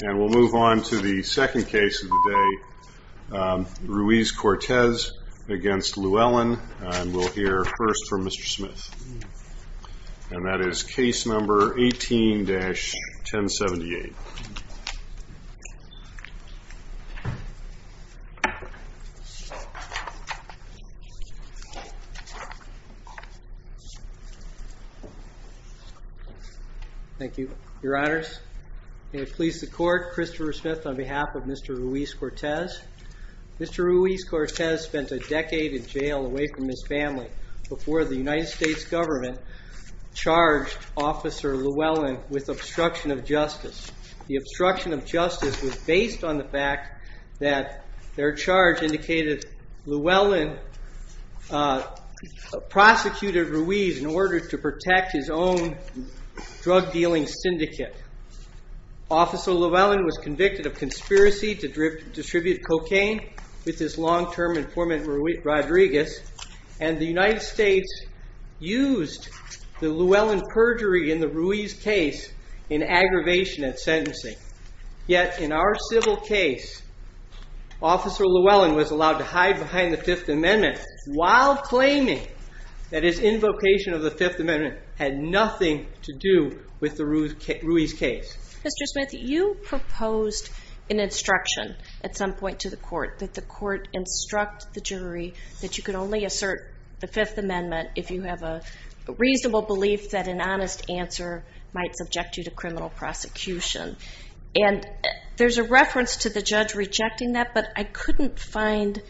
And we'll move on to the second case of the day, Ruiz-Cortez v. Lewellen, and we'll hear first from Mr. Smith, and that is case number 18-1078. Thank you, your honors. May it please the court, Christopher Smith on behalf of Mr. Ruiz-Cortez. Mr. Ruiz-Cortez spent a decade in jail away from his family before the United States government charged Officer Lewellen with obstruction of justice. The obstruction of justice was based on the fact that their charge indicated Lewellen prosecuted Ruiz in order to protect his own drug dealing syndicate. Officer Lewellen was convicted of conspiracy to distribute cocaine with his long-term informant Rodriguez, and the United States used the Lewellen perjury in the Ruiz case in aggravation at sentencing. Yet in our civil case, Officer Lewellen was allowed to hide behind the Fifth Amendment while claiming that his invocation of the Fifth Amendment had nothing to do with the Ruiz case. Mr. Smith, you proposed an instruction at some point to the court that the court instruct the jury that you could only assert the Fifth Amendment if you have a reasonable belief that an honest answer might subject you to criminal prosecution. There's a reference to the judge rejecting that, but I couldn't find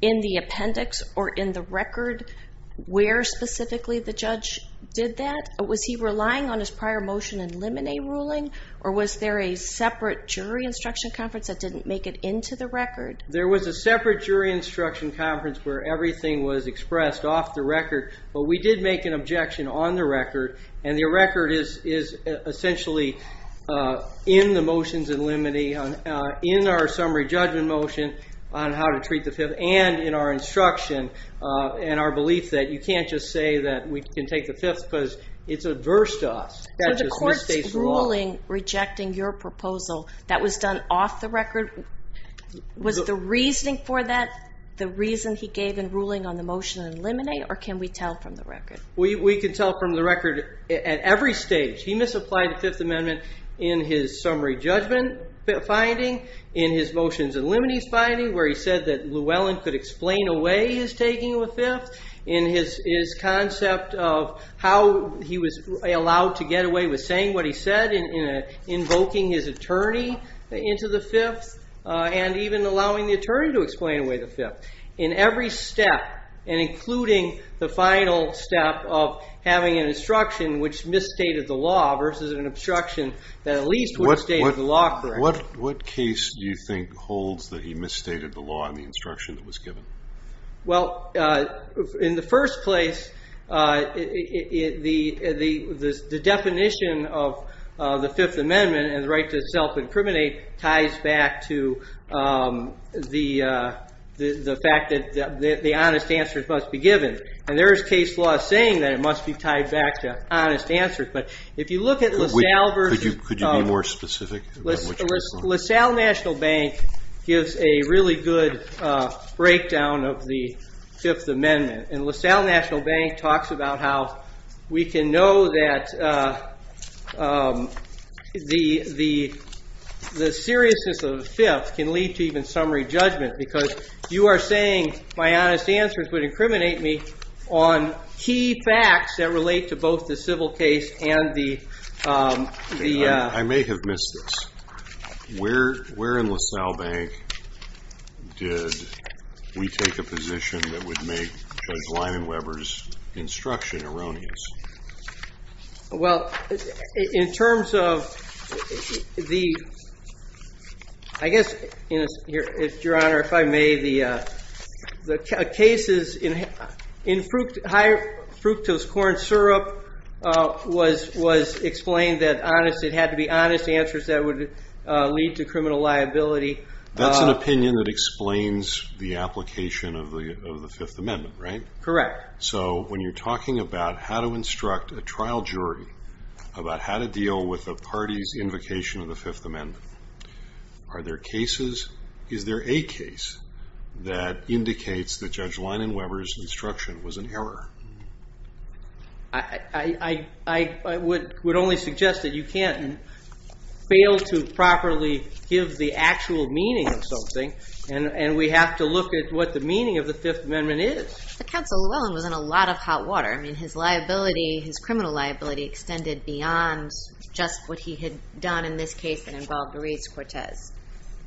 in the appendix or in the record where specifically the judge did that. Was he relying on his prior motion in Limine ruling, or was there a separate jury instruction conference that didn't make it into the record? There was a separate jury instruction conference where everything was expressed off the record, but we did make an objection on the record, and the record is essentially in the motions in Limine, in our summary judgment motion on how to treat the Fifth, and in our instruction and our belief that you can't just say that we can take the Fifth because it's adverse to us. Were the court's ruling rejecting your proposal that was done off the record, was the reasoning for that the reason he gave in ruling on the motion in Limine, or can we tell from the record? We can tell from the record at every stage. He misapplied the Fifth Amendment in his summary judgment finding, in his motions in Limine finding where he said that Llewellyn could explain away his taking of the Fifth, in his concept of how he was allowed to get away with saying what he said in invoking his attorney into the Fifth, and even allowing the attorney to explain away the Fifth. In every step, and including the final step of having an instruction which misstated the law versus an obstruction that at least would have stated the law correct. What case do you think holds that he misstated the law in the instruction that was given? Well, in the first place, the definition of the Fifth Amendment and the right to self-incriminate ties back to the fact that the honest answers must be given, and there is case law saying that it must be tied back to honest answers. Could you be more specific? LaSalle National Bank gives a really good breakdown of the Fifth Amendment. And LaSalle National Bank talks about how we can know that the seriousness of the Fifth can lead to even summary judgment, because you are saying my honest answers would incriminate me on key facts that relate to both the civil case and the... Well, in terms of the... I guess, Your Honor, if I may, the cases in high fructose corn syrup was explained that it had to be honest answers that would lead to criminal liability. That's an opinion that explains the application of the Fifth Amendment, right? Correct. So, when you're talking about how to instruct a trial jury about how to deal with a party's invocation of the Fifth Amendment, are there cases... is there a case that indicates that Judge Linen-Weber's instruction was an error? I would only suggest that you can't fail to properly give the actual meaning of something, and we have to look at what the meaning of the Fifth Amendment is. But Counsel Llewellyn was in a lot of hot water. I mean, his liability, his criminal liability, extended beyond just what he had done in this case that involved the Reeds-Cortez.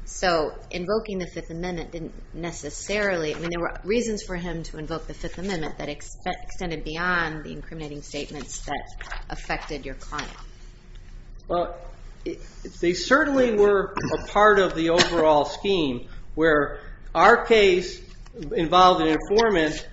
So, invoking the Fifth Amendment didn't necessarily... I mean, there were reasons for him to invoke the Fifth Amendment that extended beyond the incriminating statements that affected your client. Well, they certainly were a part of the overall scheme where our case involved an informant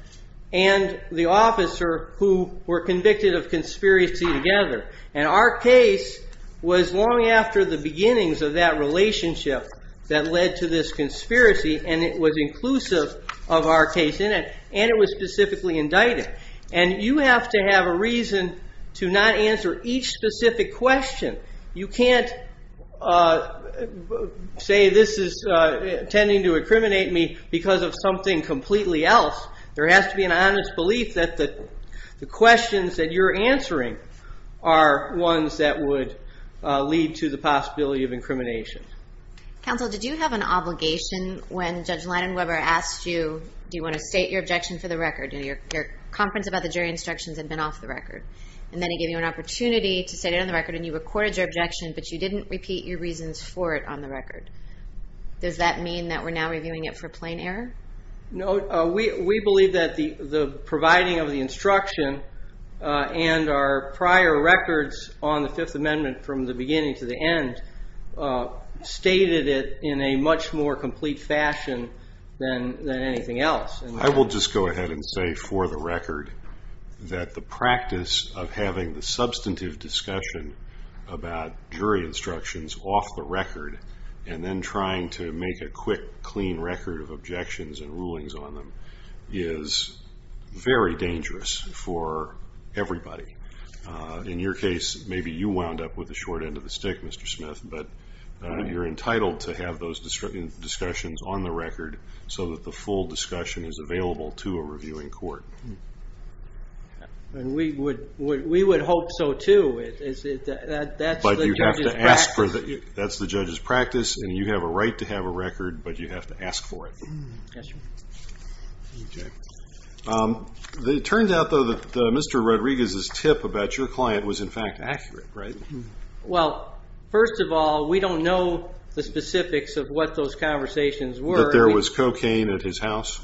and the officer who were convicted of conspiracy together. And our case was long after the beginnings of that relationship that led to this conspiracy, and it was inclusive of our case in it, and it was specifically indicted. And you have to have a reason to not answer each specific question. You can't say this is intending to incriminate me because of something completely else. There has to be an honest belief that the questions that you're answering are ones that would lead to the possibility of incrimination. Counsel, did you have an obligation when Judge Lennon Weber asked you, do you want to state your objection for the record? Your conference about the jury instructions had been off the record. And then he gave you an opportunity to state it on the record, and you recorded your objection, but you didn't repeat your reasons for it on the record. Does that mean that we're now reviewing it for plain error? No, we believe that the providing of the instruction and our prior records on the Fifth Amendment from the beginning to the end stated it in a much more complete fashion than anything else. I will just go ahead and say for the record that the practice of having the substantive discussion about jury instructions off the record and then trying to make a quick, clean record of objections and rulings on them is very dangerous for everybody. In your case, maybe you wound up with the short end of the stick, Mr. Smith, but you're entitled to have those discussions on the record so that the full discussion is available to a reviewing court. We would hope so, too. But you'd have to ask for it. That's the judge's practice, and you have a right to have a record, but you have to ask for it. Yes, sir. It turns out, though, that Mr. Rodriguez's tip about your client was, in fact, accurate, right? Well, first of all, we don't know the specifics of what those conversations were. That there was cocaine at his house?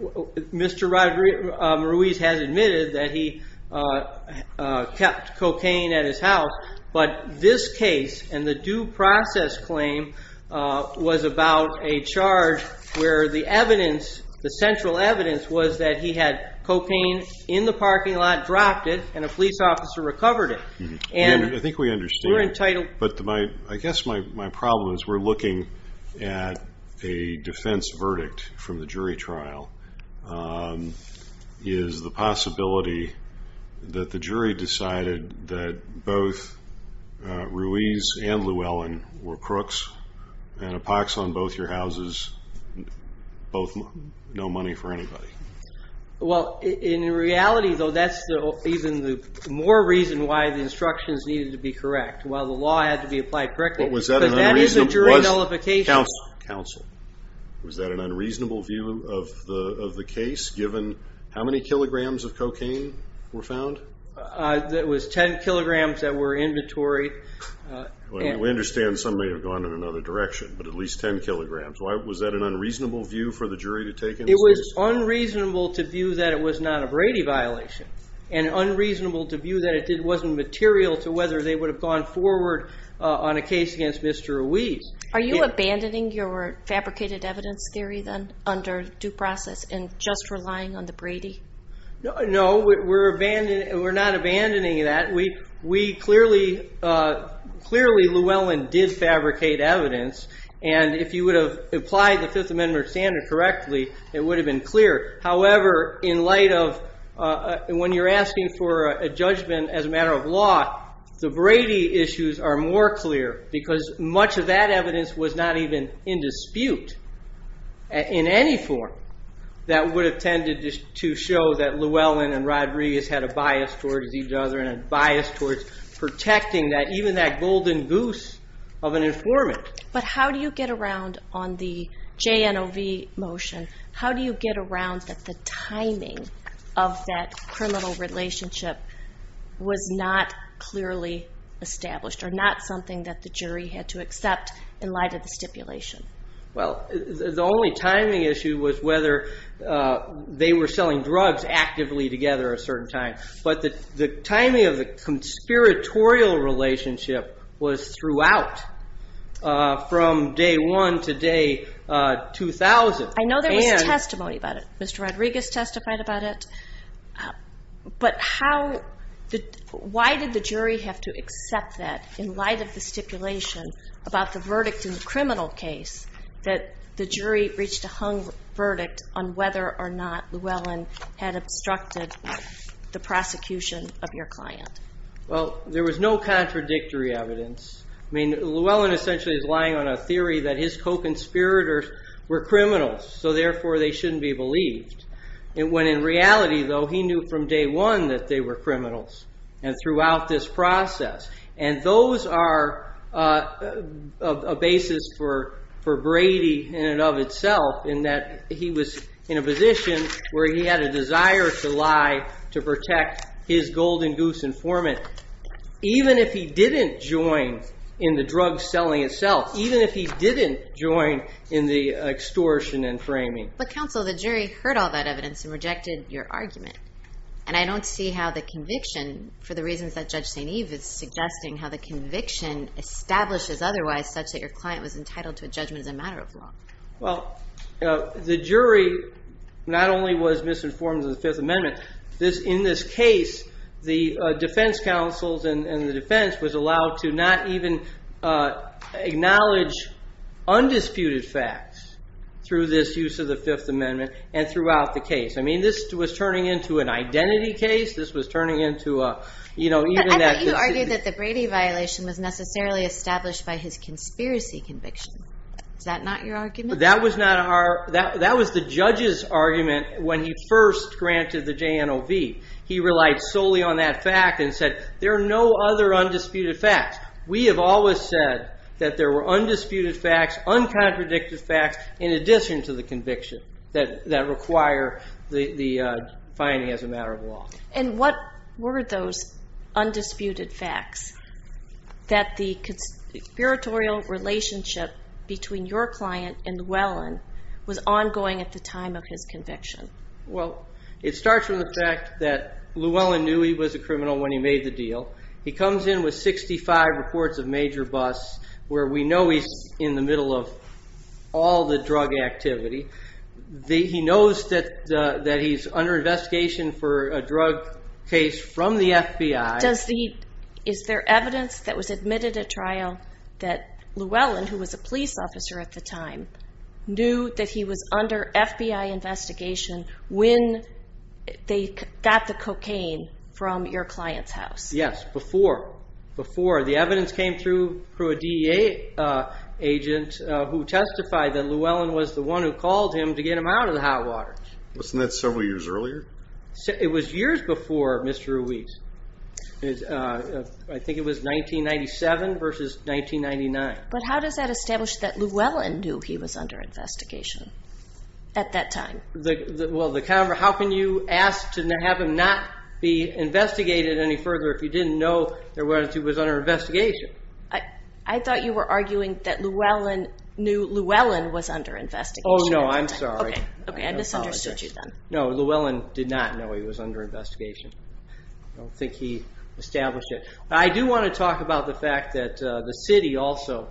Mr. Rodriguez has admitted that he kept cocaine at his house, but this case and the due process claim was about a charge where the evidence, the central evidence, was that he had cocaine in the parking lot, dropped it, and a police officer recovered it. I think we understand, but I guess my problem is we're looking at a defense verdict from the jury trial. Is the possibility that the jury decided that both Ruiz and Llewellyn were crooks and a pox on both your houses, no money for anybody? Well, in reality, though, that's even the more reason why the instructions needed to be correct, while the law had to be applied correctly. Was that an unreasonable view of the case, given how many kilograms of cocaine were found? It was 10 kilograms that were inventory. We understand some may have gone in another direction, but at least 10 kilograms. Was that an unreasonable view for the jury to take in this case? It was unreasonable to view that it was not a Brady violation, and unreasonable to view that it wasn't material to whether they would have gone forward on a case against Mr. Ruiz. Are you abandoning your fabricated evidence theory, then, under due process and just relying on the Brady? No, we're not abandoning that. Clearly, Llewellyn did fabricate evidence. And if you would have applied the Fifth Amendment standard correctly, it would have been clear. However, when you're asking for a judgment as a matter of law, the Brady issues are more clear, because much of that evidence was not even in dispute in any form. That would have tended to show that Llewellyn and Rod Ruiz had a bias towards each other, and a bias towards protecting even that golden goose of an informant. But how do you get around, on the JNOV motion, how do you get around that the timing of that criminal relationship was not clearly established, or not something that the jury had to accept in light of the stipulation? Well, the only timing issue was whether they were selling drugs actively together a certain time. But the timing of the conspiratorial relationship was throughout, from day one to day 2,000. I know there was testimony about it. Mr. Rodriguez testified about it. But why did the jury have to accept that, in light of the stipulation about the verdict in the criminal case, that the jury reached a hung verdict on whether or not Llewellyn had obstructed the prosecution of your client? Well, there was no contradictory evidence. I mean, Llewellyn essentially is lying on a theory that his co-conspirators were criminals, so therefore they shouldn't be believed. When in reality, though, he knew from day one that they were criminals, and throughout this process. And those are a basis for Brady in and of itself, in that he was in a position where he had a desire to lie to protect his golden goose informant, even if he didn't join in the drug selling itself, even if he didn't join in the extortion and framing. But counsel, the jury heard all that evidence and rejected your argument. And I don't see how the conviction, for the reasons that Judge St. Eve is suggesting, how the conviction establishes otherwise such that your client was entitled to a judgment as a matter of law. Well, the jury not only was misinformed in the Fifth Amendment. In this case, the defense counsels and the defense was allowed to not even acknowledge undisputed facts through this use of the Fifth Amendment and throughout the case. I mean, this was turning into an identity case. This was turning into a, you know, I thought you argued that the Brady violation was necessarily established by his conspiracy conviction. Is that not your argument? That was the judge's argument when he first granted the JNOV. He relied solely on that fact and said, there are no other undisputed facts. We have always said that there were undisputed facts, uncontradicted facts, in addition to the conviction that require the finding as a matter of law. And what were those undisputed facts that the conspiratorial relationship between your client and Llewellyn was ongoing at the time of his conviction? Well, it starts with the fact that Llewellyn knew he was a criminal when he made the deal. He comes in with 65 reports of major busts where we know he's in the middle of all the drug activity. He knows that he's under investigation for a drug case from the FBI. Is there evidence that was admitted at trial that Llewellyn, who was a police officer at the time, knew that he was under FBI investigation when they got the cocaine from your client's house? Yes, before. The evidence came through a DEA agent who testified that Llewellyn was the one who called him to get him out of the hot waters. Wasn't that several years earlier? It was years before, Mr. Ruiz. I think it was 1997 versus 1999. But how does that establish that Llewellyn knew he was under investigation at that time? How can you ask to have him not be investigated any further if you didn't know that he was under investigation? I thought you were arguing that Llewellyn knew Llewellyn was under investigation. Oh, no, I'm sorry. Okay, I misunderstood you then. No, Llewellyn did not know he was under investigation. I don't think he established it. I do want to talk about the fact that the city also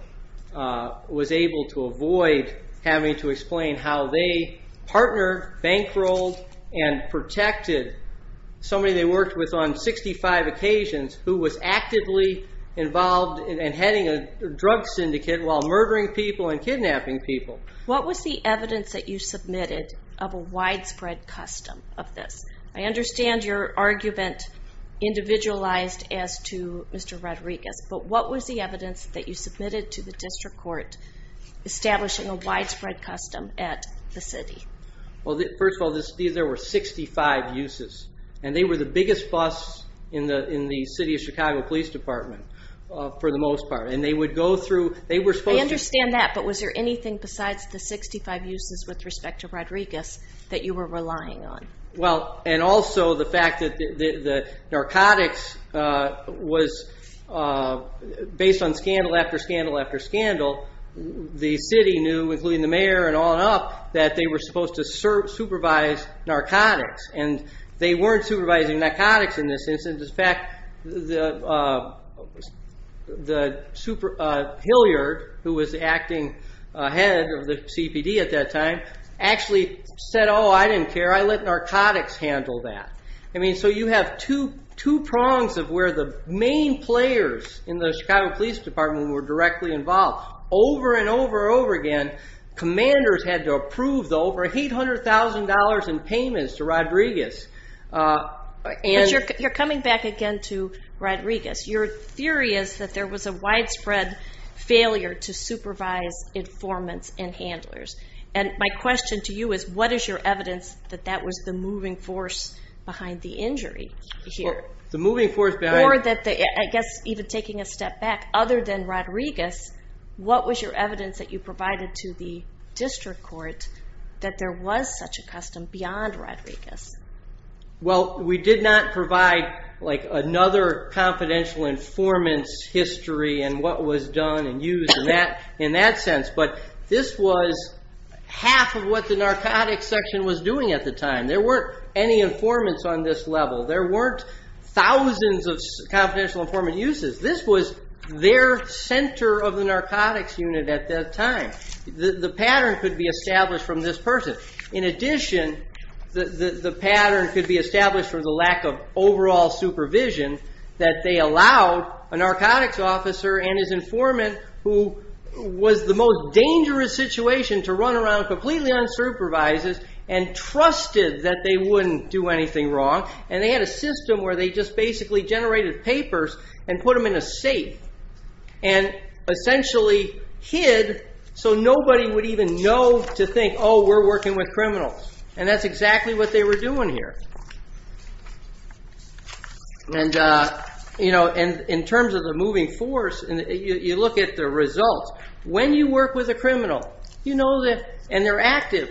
was able to avoid having to explain how they partnered, bankrolled, and protected somebody they worked with on 65 occasions who was actively involved in heading a drug syndicate while murdering people and kidnapping people. What was the evidence that you submitted of a widespread custom of this? I understand your argument individualized as to Mr. Rodriguez, but what was the evidence that you submitted to the district court establishing a widespread custom at the city? Well, first of all, there were 65 uses, and they were the biggest busts in the City of Chicago Police Department for the most part. I understand that, but was there anything besides the 65 uses with respect to Rodriguez that you were relying on? Well, and also the fact that the narcotics was based on scandal after scandal after scandal. The city knew, including the mayor and on up, that they were supposed to supervise narcotics, and they weren't supervising narcotics in this instance. In fact, Hilliard, who was the acting head of the CPD at that time, actually said, oh, I didn't care, I let narcotics handle that. I mean, so you have two prongs of where the main players in the Chicago Police Department were directly involved. Over and over and over again, commanders had to approve the over $800,000 in payments to Rodriguez. But you're coming back again to Rodriguez. Your theory is that there was a widespread failure to supervise informants and handlers. And my question to you is, what is your evidence that that was the moving force behind the injury here? The moving force behind it? Or that, I guess, even taking a step back, other than Rodriguez, what was your evidence that you provided to the district court that there was such a custom beyond Rodriguez? Well, we did not provide another confidential informant's history and what was done and used in that sense. But this was half of what the narcotics section was doing at the time. There weren't any informants on this level. There weren't thousands of confidential informant uses. This was their center of the narcotics unit at that time. The pattern could be established from this person. In addition, the pattern could be established from the lack of overall supervision that they allowed a narcotics officer and his informant, who was the most dangerous situation to run around completely unsupervised and trusted that they wouldn't do anything wrong. And they had a system where they just basically generated papers and put them in a safe and essentially hid so nobody would even know to think, oh, we're working with criminals. And that's exactly what they were doing here. And in terms of the moving force, you look at the results. When you work with a criminal and they're active,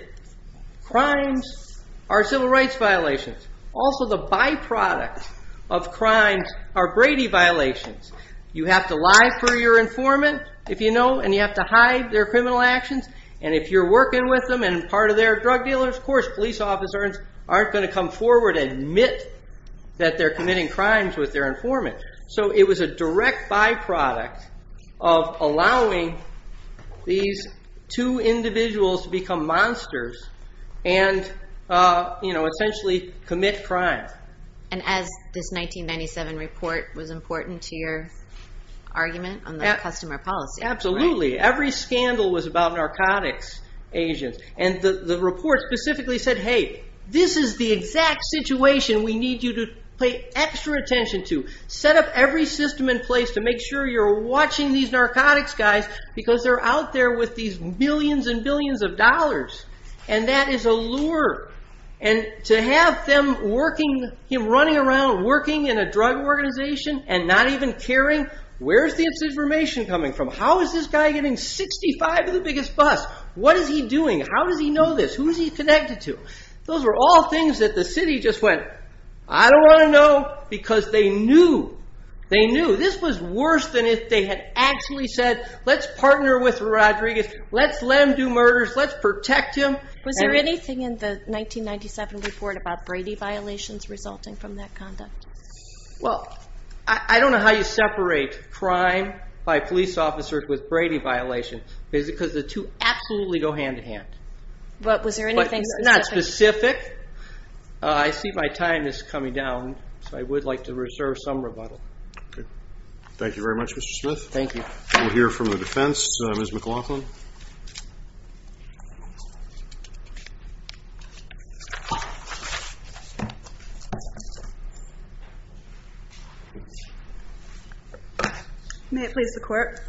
crimes are civil rights violations. Also, the byproduct of crimes are Brady violations. You have to lie for your informant, if you know, and you have to hide their criminal actions. And if you're working with them and part of their drug dealers, of course police officers aren't going to come forward and admit that they're committing crimes with their informant. So it was a direct byproduct of allowing these two individuals to become monsters and essentially commit crimes. And as this 1997 report was important to your argument on the customer policy. Absolutely. Every scandal was about narcotics agents. And the report specifically said, hey, this is the exact situation we need you to pay extra attention to. Set up every system in place to make sure you're watching these narcotics guys because they're out there with these billions and billions of dollars. And that is a lure. And to have him running around working in a drug organization and not even caring, where's the information coming from? How is this guy getting 65 of the biggest busts? What is he doing? How does he know this? Who is he connected to? Those are all things that the city just went, I don't want to know because they knew. They knew. This was worse than if they had actually said, let's partner with Rodriguez, let's let him do murders, let's protect him. Was there anything in the 1997 report about Brady violations resulting from that conduct? Well, I don't know how you separate crime by police officers with Brady violations because the two absolutely go hand-in-hand. But was there anything specific? Not specific. I see my time is coming down, so I would like to reserve some rebuttal. Thank you very much, Mr. Smith. Thank you. We'll hear from the defense, Ms. McLaughlin. May it please the Court.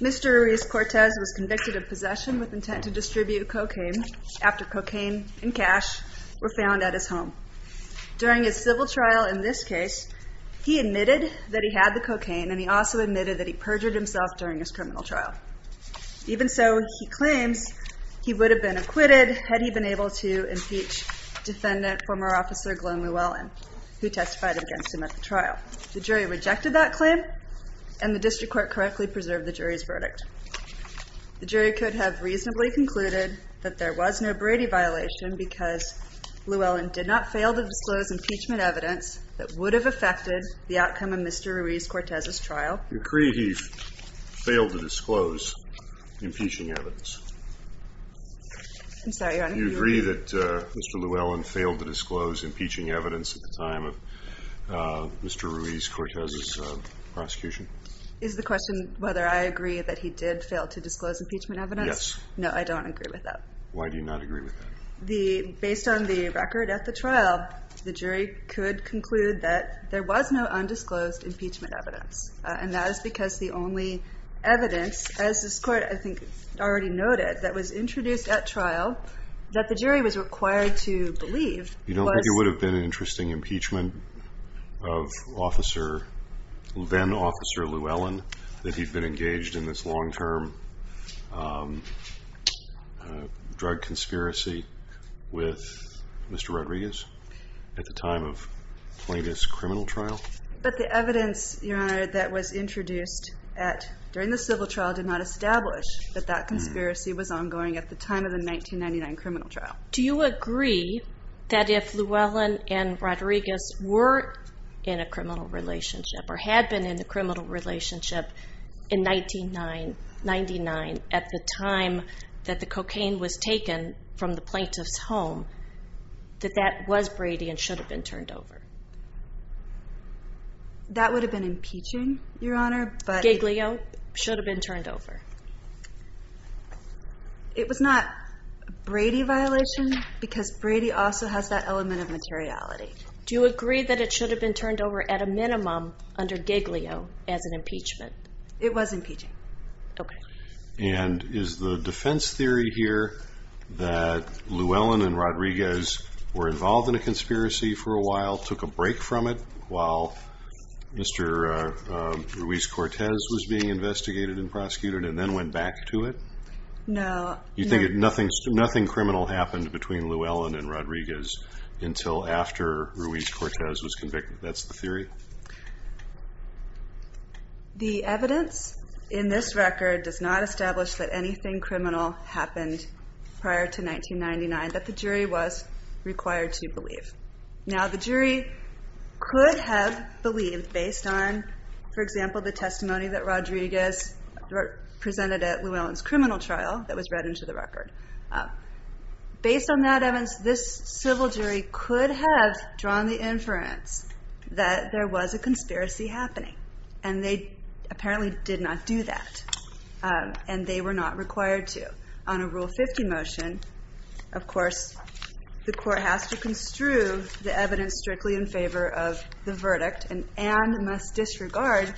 Mr. Ruiz-Cortez was convicted of possession with intent to distribute cocaine after cocaine and cash were found at his home. During his civil trial in this case, he admitted that he had the cocaine and he also admitted that he perjured himself during his criminal trial. Even so, he claims he would have been acquitted had he been able to impeach Defendant Former Officer Glenn Llewellyn, who testified against him at the trial. The jury rejected that claim and the district court correctly preserved the jury's verdict. The jury could have reasonably concluded that there was no Brady violation because Llewellyn did not fail to disclose impeachment evidence that would have affected the outcome of Mr. Ruiz-Cortez's trial. You agree he failed to disclose impeaching evidence? I'm sorry, Your Honor. Do you agree that Mr. Llewellyn failed to disclose impeaching evidence at the time of Mr. Ruiz-Cortez's prosecution? Is the question whether I agree that he did fail to disclose impeachment evidence? Yes. No, I don't agree with that. Why do you not agree with that? Based on the record at the trial, the jury could conclude that there was no undisclosed impeachment evidence, and that is because the only evidence, as this Court, I think, already noted, that was introduced at trial that the jury was required to believe was... You don't think it would have been an interesting impeachment of then-Officer Llewellyn, that he'd been engaged in this long-term drug conspiracy with Mr. Rodriguez at the time of Plaintiff's criminal trial? But the evidence, Your Honor, that was introduced during the civil trial did not establish that that conspiracy was ongoing at the time of the 1999 criminal trial. Do you agree that if Llewellyn and Rodriguez were in a criminal relationship or had been in a criminal relationship in 1999 at the time that the cocaine was taken from the Plaintiff's home, that that was Brady and should have been turned over? That would have been impeaching, Your Honor, but... It was not a Brady violation because Brady also has that element of materiality. Do you agree that it should have been turned over at a minimum under Giglio as an impeachment? It was impeaching. Okay. And is the defense theory here that Llewellyn and Rodriguez were involved in a conspiracy for a while, took a break from it while Mr. Ruiz-Cortez was being investigated and prosecuted, and then went back to it? No. You think nothing criminal happened between Llewellyn and Rodriguez until after Ruiz-Cortez was convicted? That's the theory? The evidence in this record does not establish that anything criminal happened prior to 1999 that the jury was required to believe. Now, the jury could have believed based on, for example, the testimony that Rodriguez presented at Llewellyn's criminal trial that was read into the record. Based on that evidence, this civil jury could have drawn the inference that there was a conspiracy happening, and they apparently did not do that, and they were not required to. On a Rule 50 motion, of course, the court has to construe the evidence strictly in favor of the verdict and must disregard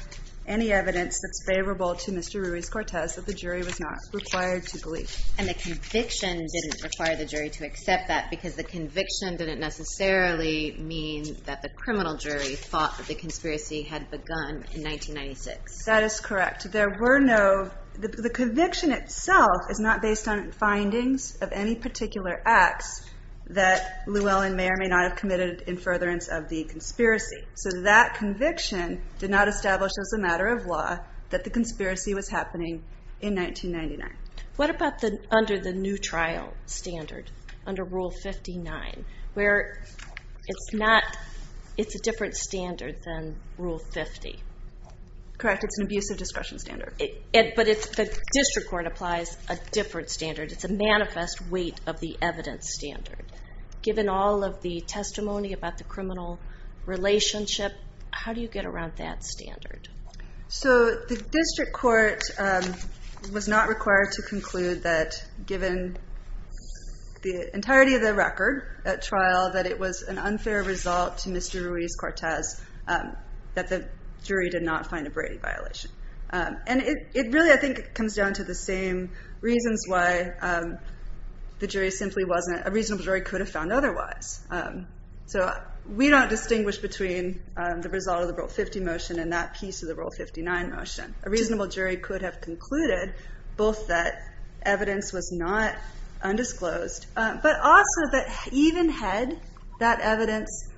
any evidence that's favorable to Mr. Ruiz-Cortez that the jury was not required to believe. And the conviction didn't require the jury to accept that because the conviction didn't necessarily mean that the criminal jury thought that the conspiracy had begun in 1996. That is correct. The conviction itself is not based on findings of any particular acts that Llewellyn may or may not have committed in furtherance of the conspiracy. So that conviction did not establish as a matter of law that the conspiracy was happening in 1999. What about under the new trial standard, under Rule 59, where it's a different standard than Rule 50? Correct, it's an abusive discretion standard. But the district court applies a different standard. It's a manifest weight of the evidence standard. Given all of the testimony about the criminal relationship, how do you get around that standard? So the district court was not required to conclude that, given the entirety of the record at trial, that it was an unfair result to Mr. Ruiz-Cortez that the jury did not find a Brady violation. And it really, I think, comes down to the same reasons why the jury simply wasn't – a reasonable jury could have found otherwise. So we don't distinguish between the result of the Rule 50 motion and that piece of the Rule 59 motion. A reasonable jury could have concluded both that evidence was not undisclosed but also that even had that evidence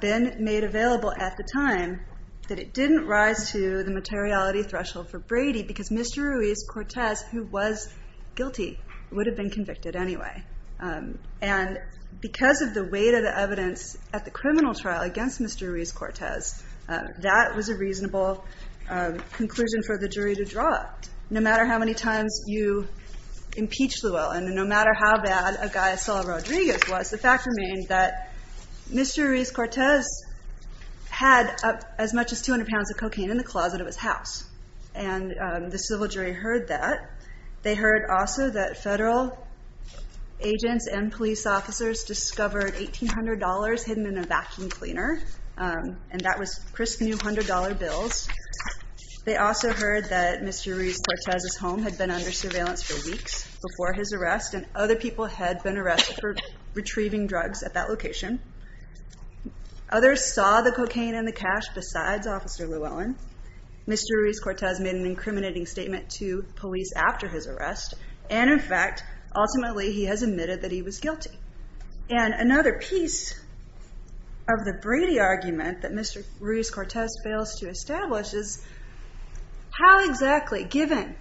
been made available at the time, that it didn't rise to the materiality threshold for Brady because Mr. Ruiz-Cortez, who was guilty, would have been convicted anyway. And because of the weight of the evidence at the criminal trial against Mr. Ruiz-Cortez, that was a reasonable conclusion for the jury to draw, no matter how many times you impeach Llewellyn and no matter how bad a guy as Saul Rodriguez was. The fact remained that Mr. Ruiz-Cortez had as much as 200 pounds of cocaine in the closet of his house, and the civil jury heard that. They heard also that federal agents and police officers discovered $1,800 hidden in a vacuum cleaner, and that was crisp new $100 bills. They also heard that Mr. Ruiz-Cortez's home had been under surveillance for weeks before his arrest, and other people had been arrested for retrieving drugs at that location. Others saw the cocaine in the cache besides Officer Llewellyn. Mr. Ruiz-Cortez made an incriminating statement to police after his arrest, and, in fact, ultimately he has admitted that he was guilty. And another piece of the Brady argument that Mr. Ruiz-Cortez fails to establish is, how exactly, given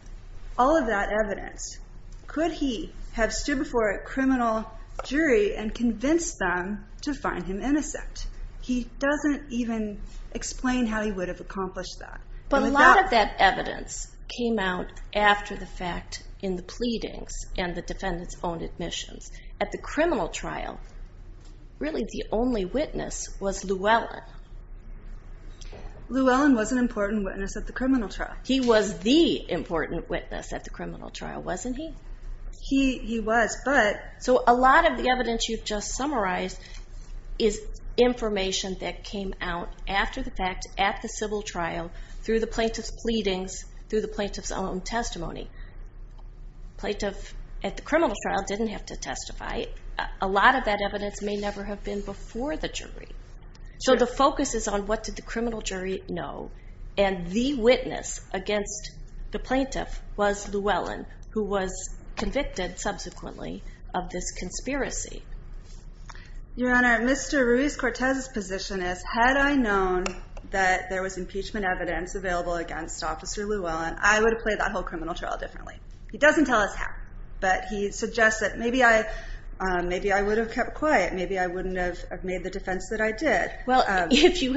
all of that evidence, could he have stood before a criminal jury and convinced them to find him innocent? He doesn't even explain how he would have accomplished that. But a lot of that evidence came out after the fact in the pleadings and the defendant's own admissions. At the criminal trial, really the only witness was Llewellyn. Llewellyn was an important witness at the criminal trial. He was the important witness at the criminal trial, wasn't he? He was, but... So a lot of the evidence you've just summarized is information that came out after the fact, at the civil trial, through the plaintiff's pleadings, through the plaintiff's own testimony. Plaintiff at the criminal trial didn't have to testify. A lot of that evidence may never have been before the jury. So the focus is on what did the criminal jury know, and the witness against the plaintiff was Llewellyn, who was convicted subsequently of this conspiracy. Your Honor, Mr. Ruiz-Cortez's position is, had I known that there was impeachment evidence available against Officer Llewellyn, I would have played that whole criminal trial differently. He doesn't tell us how, but he suggests that maybe I would have kept quiet. Maybe I wouldn't have made the defense that I did. Well, if you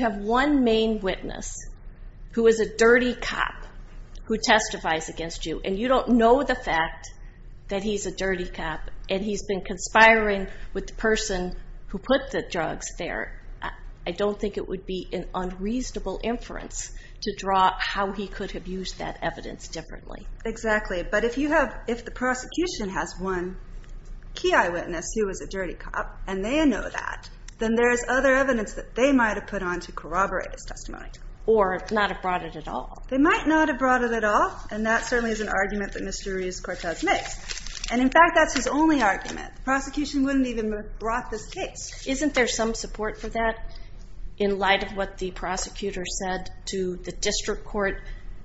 have one main witness who is a dirty cop who testifies against you, and you don't know the fact that he's a dirty cop, and he's been conspiring with the person who put the drugs there, I don't think it would be an unreasonable inference to draw how he could have used that evidence differently. Exactly. But if the prosecution has one key eyewitness who is a dirty cop, and they know that, then there's other evidence that they might have put on to corroborate his testimony. Or not have brought it at all. They might not have brought it at all, and that certainly is an argument that Mr. Ruiz-Cortez makes. And, in fact, that's his only argument. The prosecution wouldn't even have brought this case. Isn't there some support for that, in light of what the prosecutor said to the district court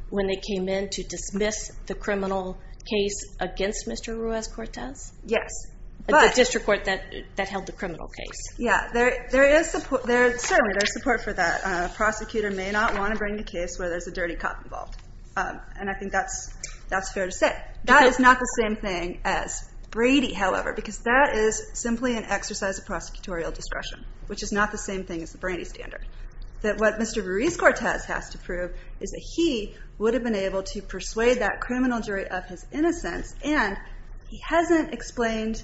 when they came in to dismiss the criminal case against Mr. Ruiz-Cortez? Yes. The district court that held the criminal case. Yeah. There is support for that. A prosecutor may not want to bring the case where there's a dirty cop involved. And I think that's fair to say. That is not the same thing as Brady, however, because that is simply an exercise of prosecutorial discretion, which is not the same thing as the Brady standard. That what Mr. Ruiz-Cortez has to prove is that he would have been able to persuade that criminal jury of his innocence, and he hasn't explained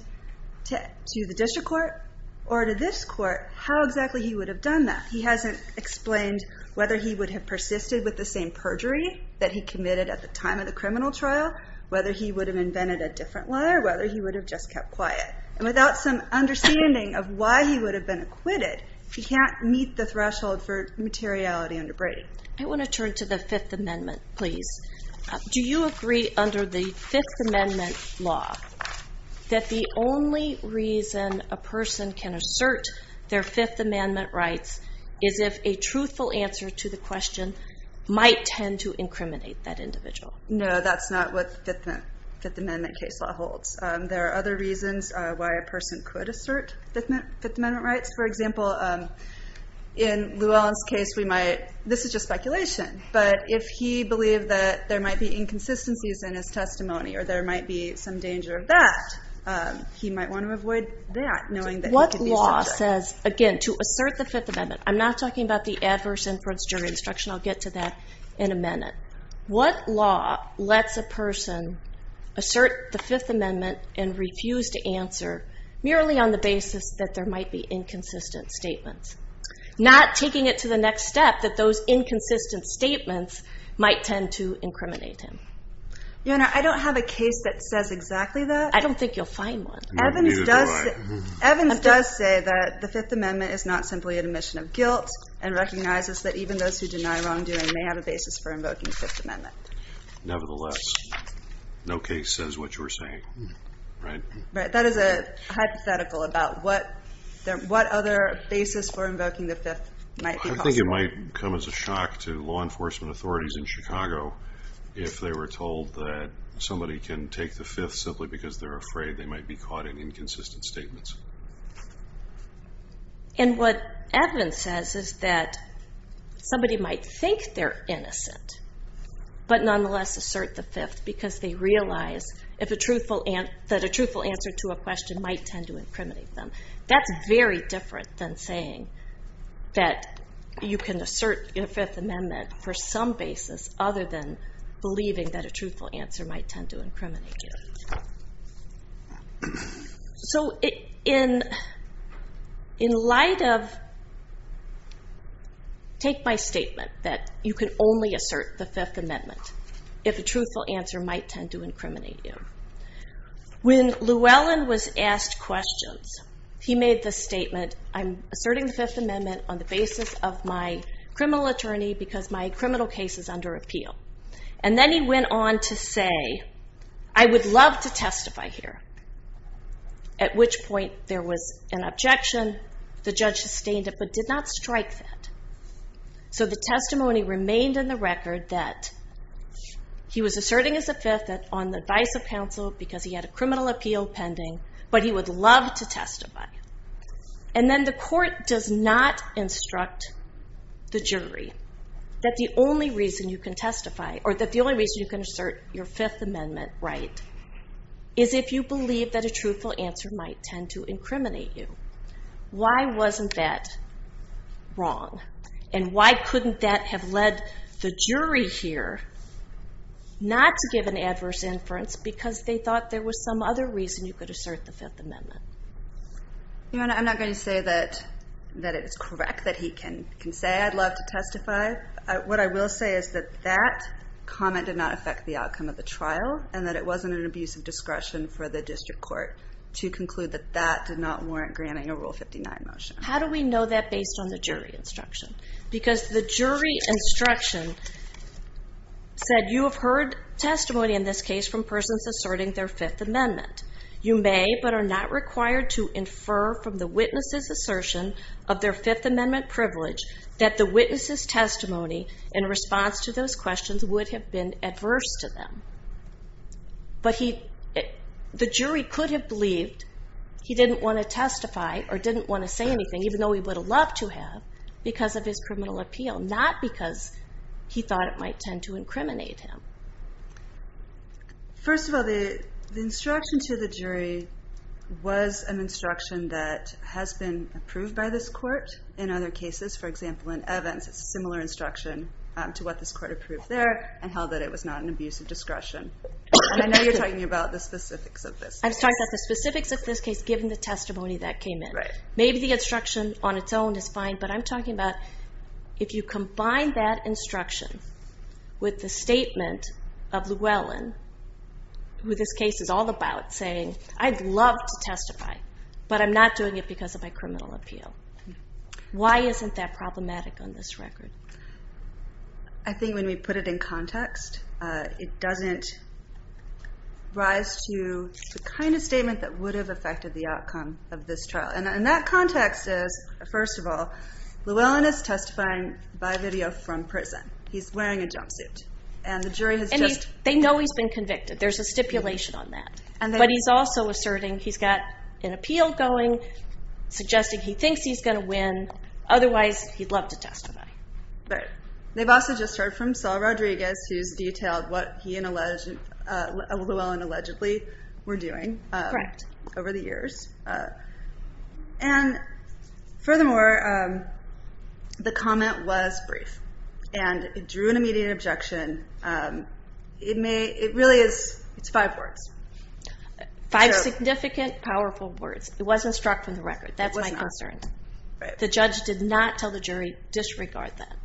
to the district court or to this court how exactly he would have done that. He hasn't explained whether he would have persisted with the same perjury that he committed at the time of the criminal trial, whether he would have invented a different lawyer, or whether he would have just kept quiet. And without some understanding of why he would have been acquitted, he can't meet the threshold for materiality under Brady. I want to turn to the Fifth Amendment, please. Do you agree under the Fifth Amendment law that the only reason a person can assert their Fifth Amendment rights is if a truthful answer to the question might tend to incriminate that individual? No, that's not what the Fifth Amendment case law holds. There are other reasons why a person could assert Fifth Amendment rights. For example, in Lewallen's case, this is just speculation, but if he believed that there might be inconsistencies in his testimony or there might be some danger of that, he might want to avoid that, knowing that he could be subject. What law says, again, to assert the Fifth Amendment, I'm not talking about the Adverse Inference Jury Instruction, I'll get to that in a minute. What law lets a person assert the Fifth Amendment and refuse to answer merely on the basis that there might be inconsistent statements, not taking it to the next step that those inconsistent statements might tend to incriminate him? Your Honor, I don't have a case that says exactly that. I don't think you'll find one. Evans does say that the Fifth Amendment is not simply an admission of guilt and recognizes that even those who deny wrongdoing may have a basis for invoking the Fifth Amendment. Nevertheless, no case says what you're saying, right? That is a hypothetical about what other basis for invoking the Fifth might be possible. I think it might come as a shock to law enforcement authorities in Chicago if they were told that somebody can take the Fifth simply because they're afraid they might be caught in inconsistent statements. And what Evans says is that somebody might think they're innocent but nonetheless assert the Fifth because they realize that a truthful answer to a question might tend to incriminate them. That's very different than saying that you can assert your Fifth Amendment for some basis other than believing that a truthful answer might tend to incriminate you. So in light of... Take my statement that you can only assert the Fifth Amendment if a truthful answer might tend to incriminate you. When Llewellyn was asked questions, he made the statement, I'm asserting the Fifth Amendment on the basis of my criminal attorney because my criminal case is under appeal. And then he went on to say, I would love to testify here. At which point there was an objection. The judge sustained it but did not strike that. So the testimony remained in the record that he was asserting his Fifth on the advice of counsel because he had a criminal appeal pending but he would love to testify. And then the court does not instruct the jury that the only reason you can assert your Fifth Amendment right is if you believe that a truthful answer might tend to incriminate you. Why wasn't that wrong? And why couldn't that have led the jury here not to give an adverse inference because they thought there was some other reason you could assert the Fifth Amendment? Your Honor, I'm not going to say that it is correct that he can say I'd love to testify. What I will say is that that comment did not affect the outcome of the trial and that it wasn't an abuse of discretion for the district court to conclude that that did not warrant granting a Rule 59 motion. How do we know that based on the jury instruction? Because the jury instruction said, you have heard testimony in this case from persons asserting their Fifth Amendment. You may but are not required to infer from the witness's assertion of their Fifth Amendment privilege that the witness's testimony in response to those questions would have been adverse to them. But the jury could have believed he didn't want to testify or didn't want to say anything, even though he would have loved to have, because of his criminal appeal, not because he thought it might tend to incriminate him. First of all, the instruction to the jury was an instruction that has been approved by this court in other cases. For example, in Evans, it's a similar instruction to what this court approved there and held that it was not an abuse of discretion. I know you're talking about the specifics of this case. I'm talking about the specifics of this case, given the testimony that came in. Maybe the instruction on its own is fine, but I'm talking about if you combine that instruction with the statement of Llewellyn, who this case is all about, saying, I'd love to testify, but I'm not doing it because of my criminal appeal. Why isn't that problematic on this record? I think when we put it in context, it doesn't rise to the kind of statement that would have affected the outcome of this trial. And that context is, first of all, Llewellyn is testifying by video from prison. He's wearing a jumpsuit. And they know he's been convicted. There's a stipulation on that. But he's also asserting he's got an appeal going, suggesting he thinks he's going to win. Otherwise, he'd love to testify. Right. They've also just heard from Saul Rodriguez, who's detailed what he and Llewellyn allegedly were doing over the years. And furthermore, the comment was brief. And it drew an immediate objection. It really is five words. Five significant, powerful words. It wasn't struck from the record. That's my concern. The judge did not tell the jury, disregard that.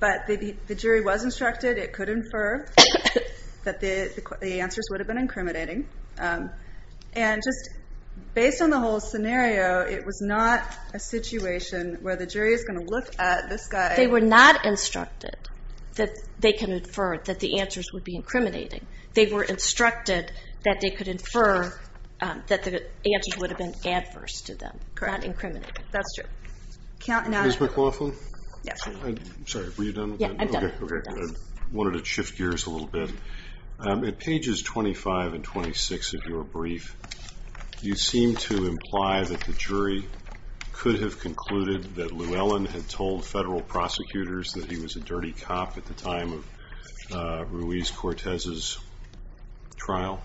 But the jury was instructed. It could infer that the answers would have been incriminating. And just based on the whole scenario, it was not a situation where the jury is going to look at this guy. They were not instructed that they can infer that the answers would be incriminating. They were instructed that they could infer that the answers would have been adverse to them, not incriminating. That's true. Ms. McLaughlin? Yes. I'm sorry. Were you done? Yeah, I'm done. I wanted to shift gears a little bit. At pages 25 and 26 of your brief, you seem to imply that the jury could have concluded that Llewellyn had told federal prosecutors that he was a dirty cop at the time of Ruiz-Cortez's trial.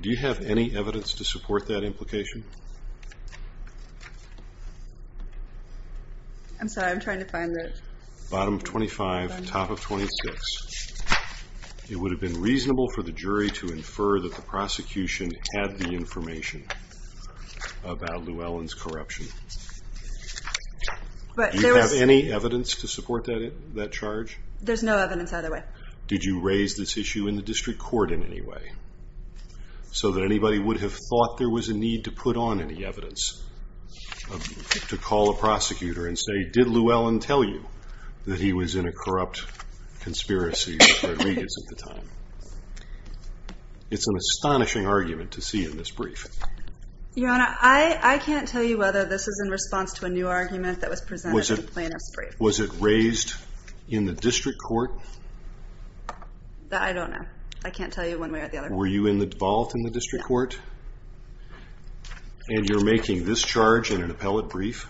Do you have any evidence to support that implication? I'm sorry. I'm trying to find it. Bottom of 25, top of 26. It would have been reasonable for the jury to infer that the prosecution had the information about Llewellyn's corruption. Do you have any evidence to support that charge? There's no evidence either way. Did you raise this issue in the district court in any way so that anybody would have thought there was a need to put on any evidence to call a prosecutor and say, Did Llewellyn tell you that he was in a corrupt conspiracy with Rodriguez at the time? It's an astonishing argument to see in this brief. Your Honor, I can't tell you whether this is in response to a new argument that was presented in the plaintiff's brief. Was it raised in the district court? I don't know. I can't tell you one way or the other. Were you involved in the district court? And you're making this charge in an appellate brief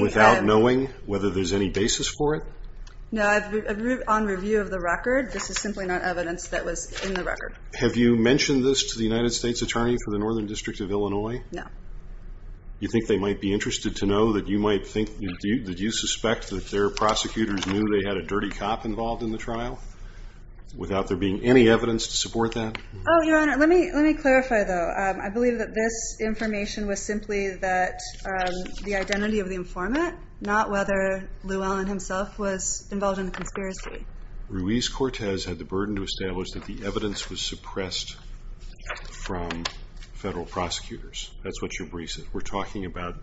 without knowing whether there's any basis for it? No. On review of the record, this is simply not evidence that was in the record. Have you mentioned this to the United States Attorney for the Northern District of Illinois? No. You think they might be interested to know that you suspect that their prosecutors knew they had a dirty cop involved in the trial without there being any evidence to support that? Your Honor, let me clarify, though. I believe that this information was simply the identity of the informant, not whether Llewellyn himself was involved in the conspiracy. Ruiz-Cortez had the burden to establish that the evidence was suppressed from federal prosecutors. That's what your brief said. We're talking about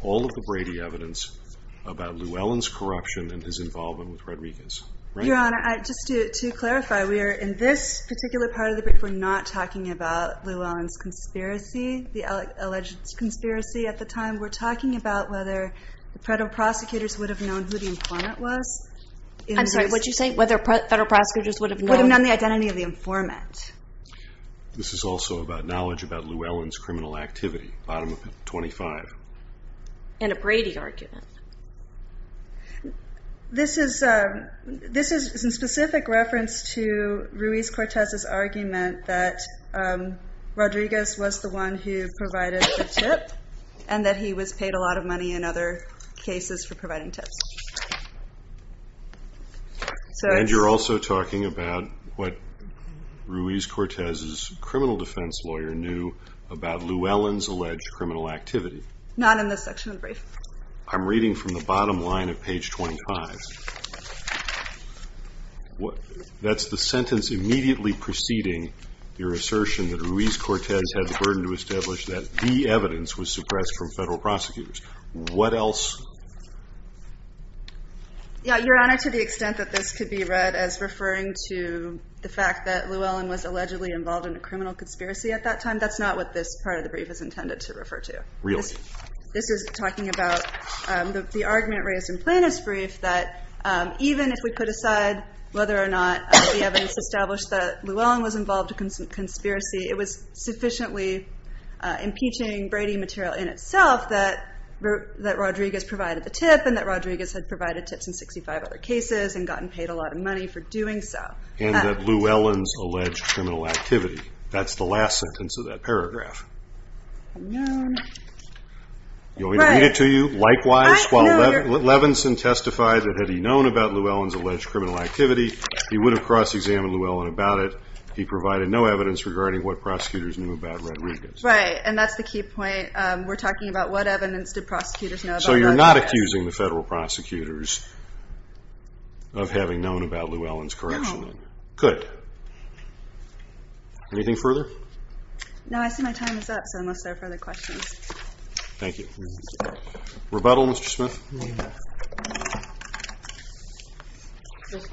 all of the Brady evidence about Llewellyn's corruption and his involvement with Rodriguez. Your Honor, just to clarify, in this particular part of the brief we're not talking about Llewellyn's conspiracy, the alleged conspiracy at the time. We're talking about whether the federal prosecutors would have known who the informant was. I'm sorry, what did you say? Whether federal prosecutors would have known? Would have known the identity of the informant. This is also about knowledge about Llewellyn's criminal activity, bottom of the 25. In a Brady argument. This is in specific reference to Ruiz-Cortez's argument that Rodriguez was the one who provided the tip and that he was paid a lot of money in other cases for providing tips. And you're also talking about what Ruiz-Cortez's criminal defense lawyer knew about Llewellyn's alleged criminal activity. Not in this section of the brief. I'm reading from the bottom line of page 25. That's the sentence immediately preceding your assertion that Ruiz-Cortez had the burden to establish that the evidence was suppressed from federal prosecutors. What else? Yeah, Your Honor, to the extent that this could be read as referring to the fact that Llewellyn was allegedly involved in a criminal conspiracy at that time, that's not what this part of the brief is intended to refer to. Really? This is talking about the argument raised in Plaintiff's Brief that even if we put aside whether or not the evidence established that Llewellyn was involved in a conspiracy, it was sufficiently impeaching Brady material in itself that Rodriguez provided the tip and that Rodriguez had provided tips in 65 other cases and gotten paid a lot of money for doing so. And that Llewellyn's alleged criminal activity. That's the last sentence of that paragraph. You want me to read it to you? Likewise, while Levinson testified that had he known about Llewellyn's alleged criminal activity, he would have cross-examined Llewellyn about it. He provided no evidence regarding what prosecutors knew about Rodriguez. Right, and that's the key point. We're talking about what evidence did prosecutors know about Llewellyn. So you're not accusing the federal prosecutors of having known about Llewellyn's corruption? No. Good. Anything further? No, I see my time is up, so unless there are further questions. Thank you. Rebuttal, Mr. Smith? Just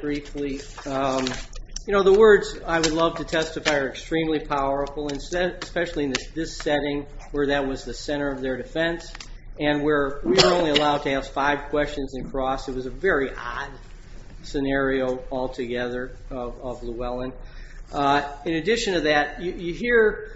briefly. You know, the words I would love to testify are extremely powerful, especially in this setting where that was the center of their defense and where we were only allowed to ask five questions and cross. It was a very odd scenario altogether of Llewellyn. In addition to that, you hear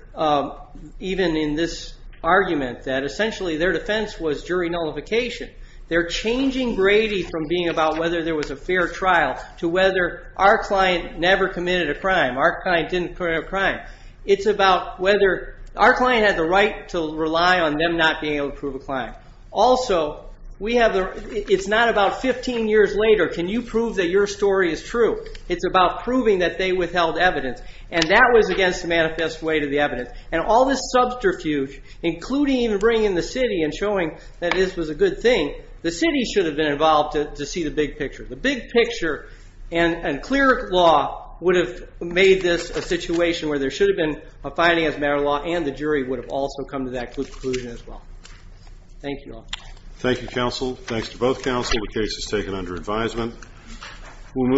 even in this argument that essentially their defense was jury nullification. They're changing Brady from being about whether there was a fair trial to whether our client never committed a crime, our client didn't commit a crime. It's about whether our client had the right to rely on them not being able to prove a crime. Also, it's not about 15 years later, can you prove that your story is true? It's about proving that they withheld evidence, and that was against the manifest way to the evidence. And all this subterfuge, including even bringing in the city and showing that this was a good thing, the city should have been involved to see the big picture. The big picture and clear law would have made this a situation where there should have been a finding as a matter of law and the jury would have also come to that conclusion as well. Thank you all. Thank you, counsel. Thanks to both counsel. The case is taken under advisement.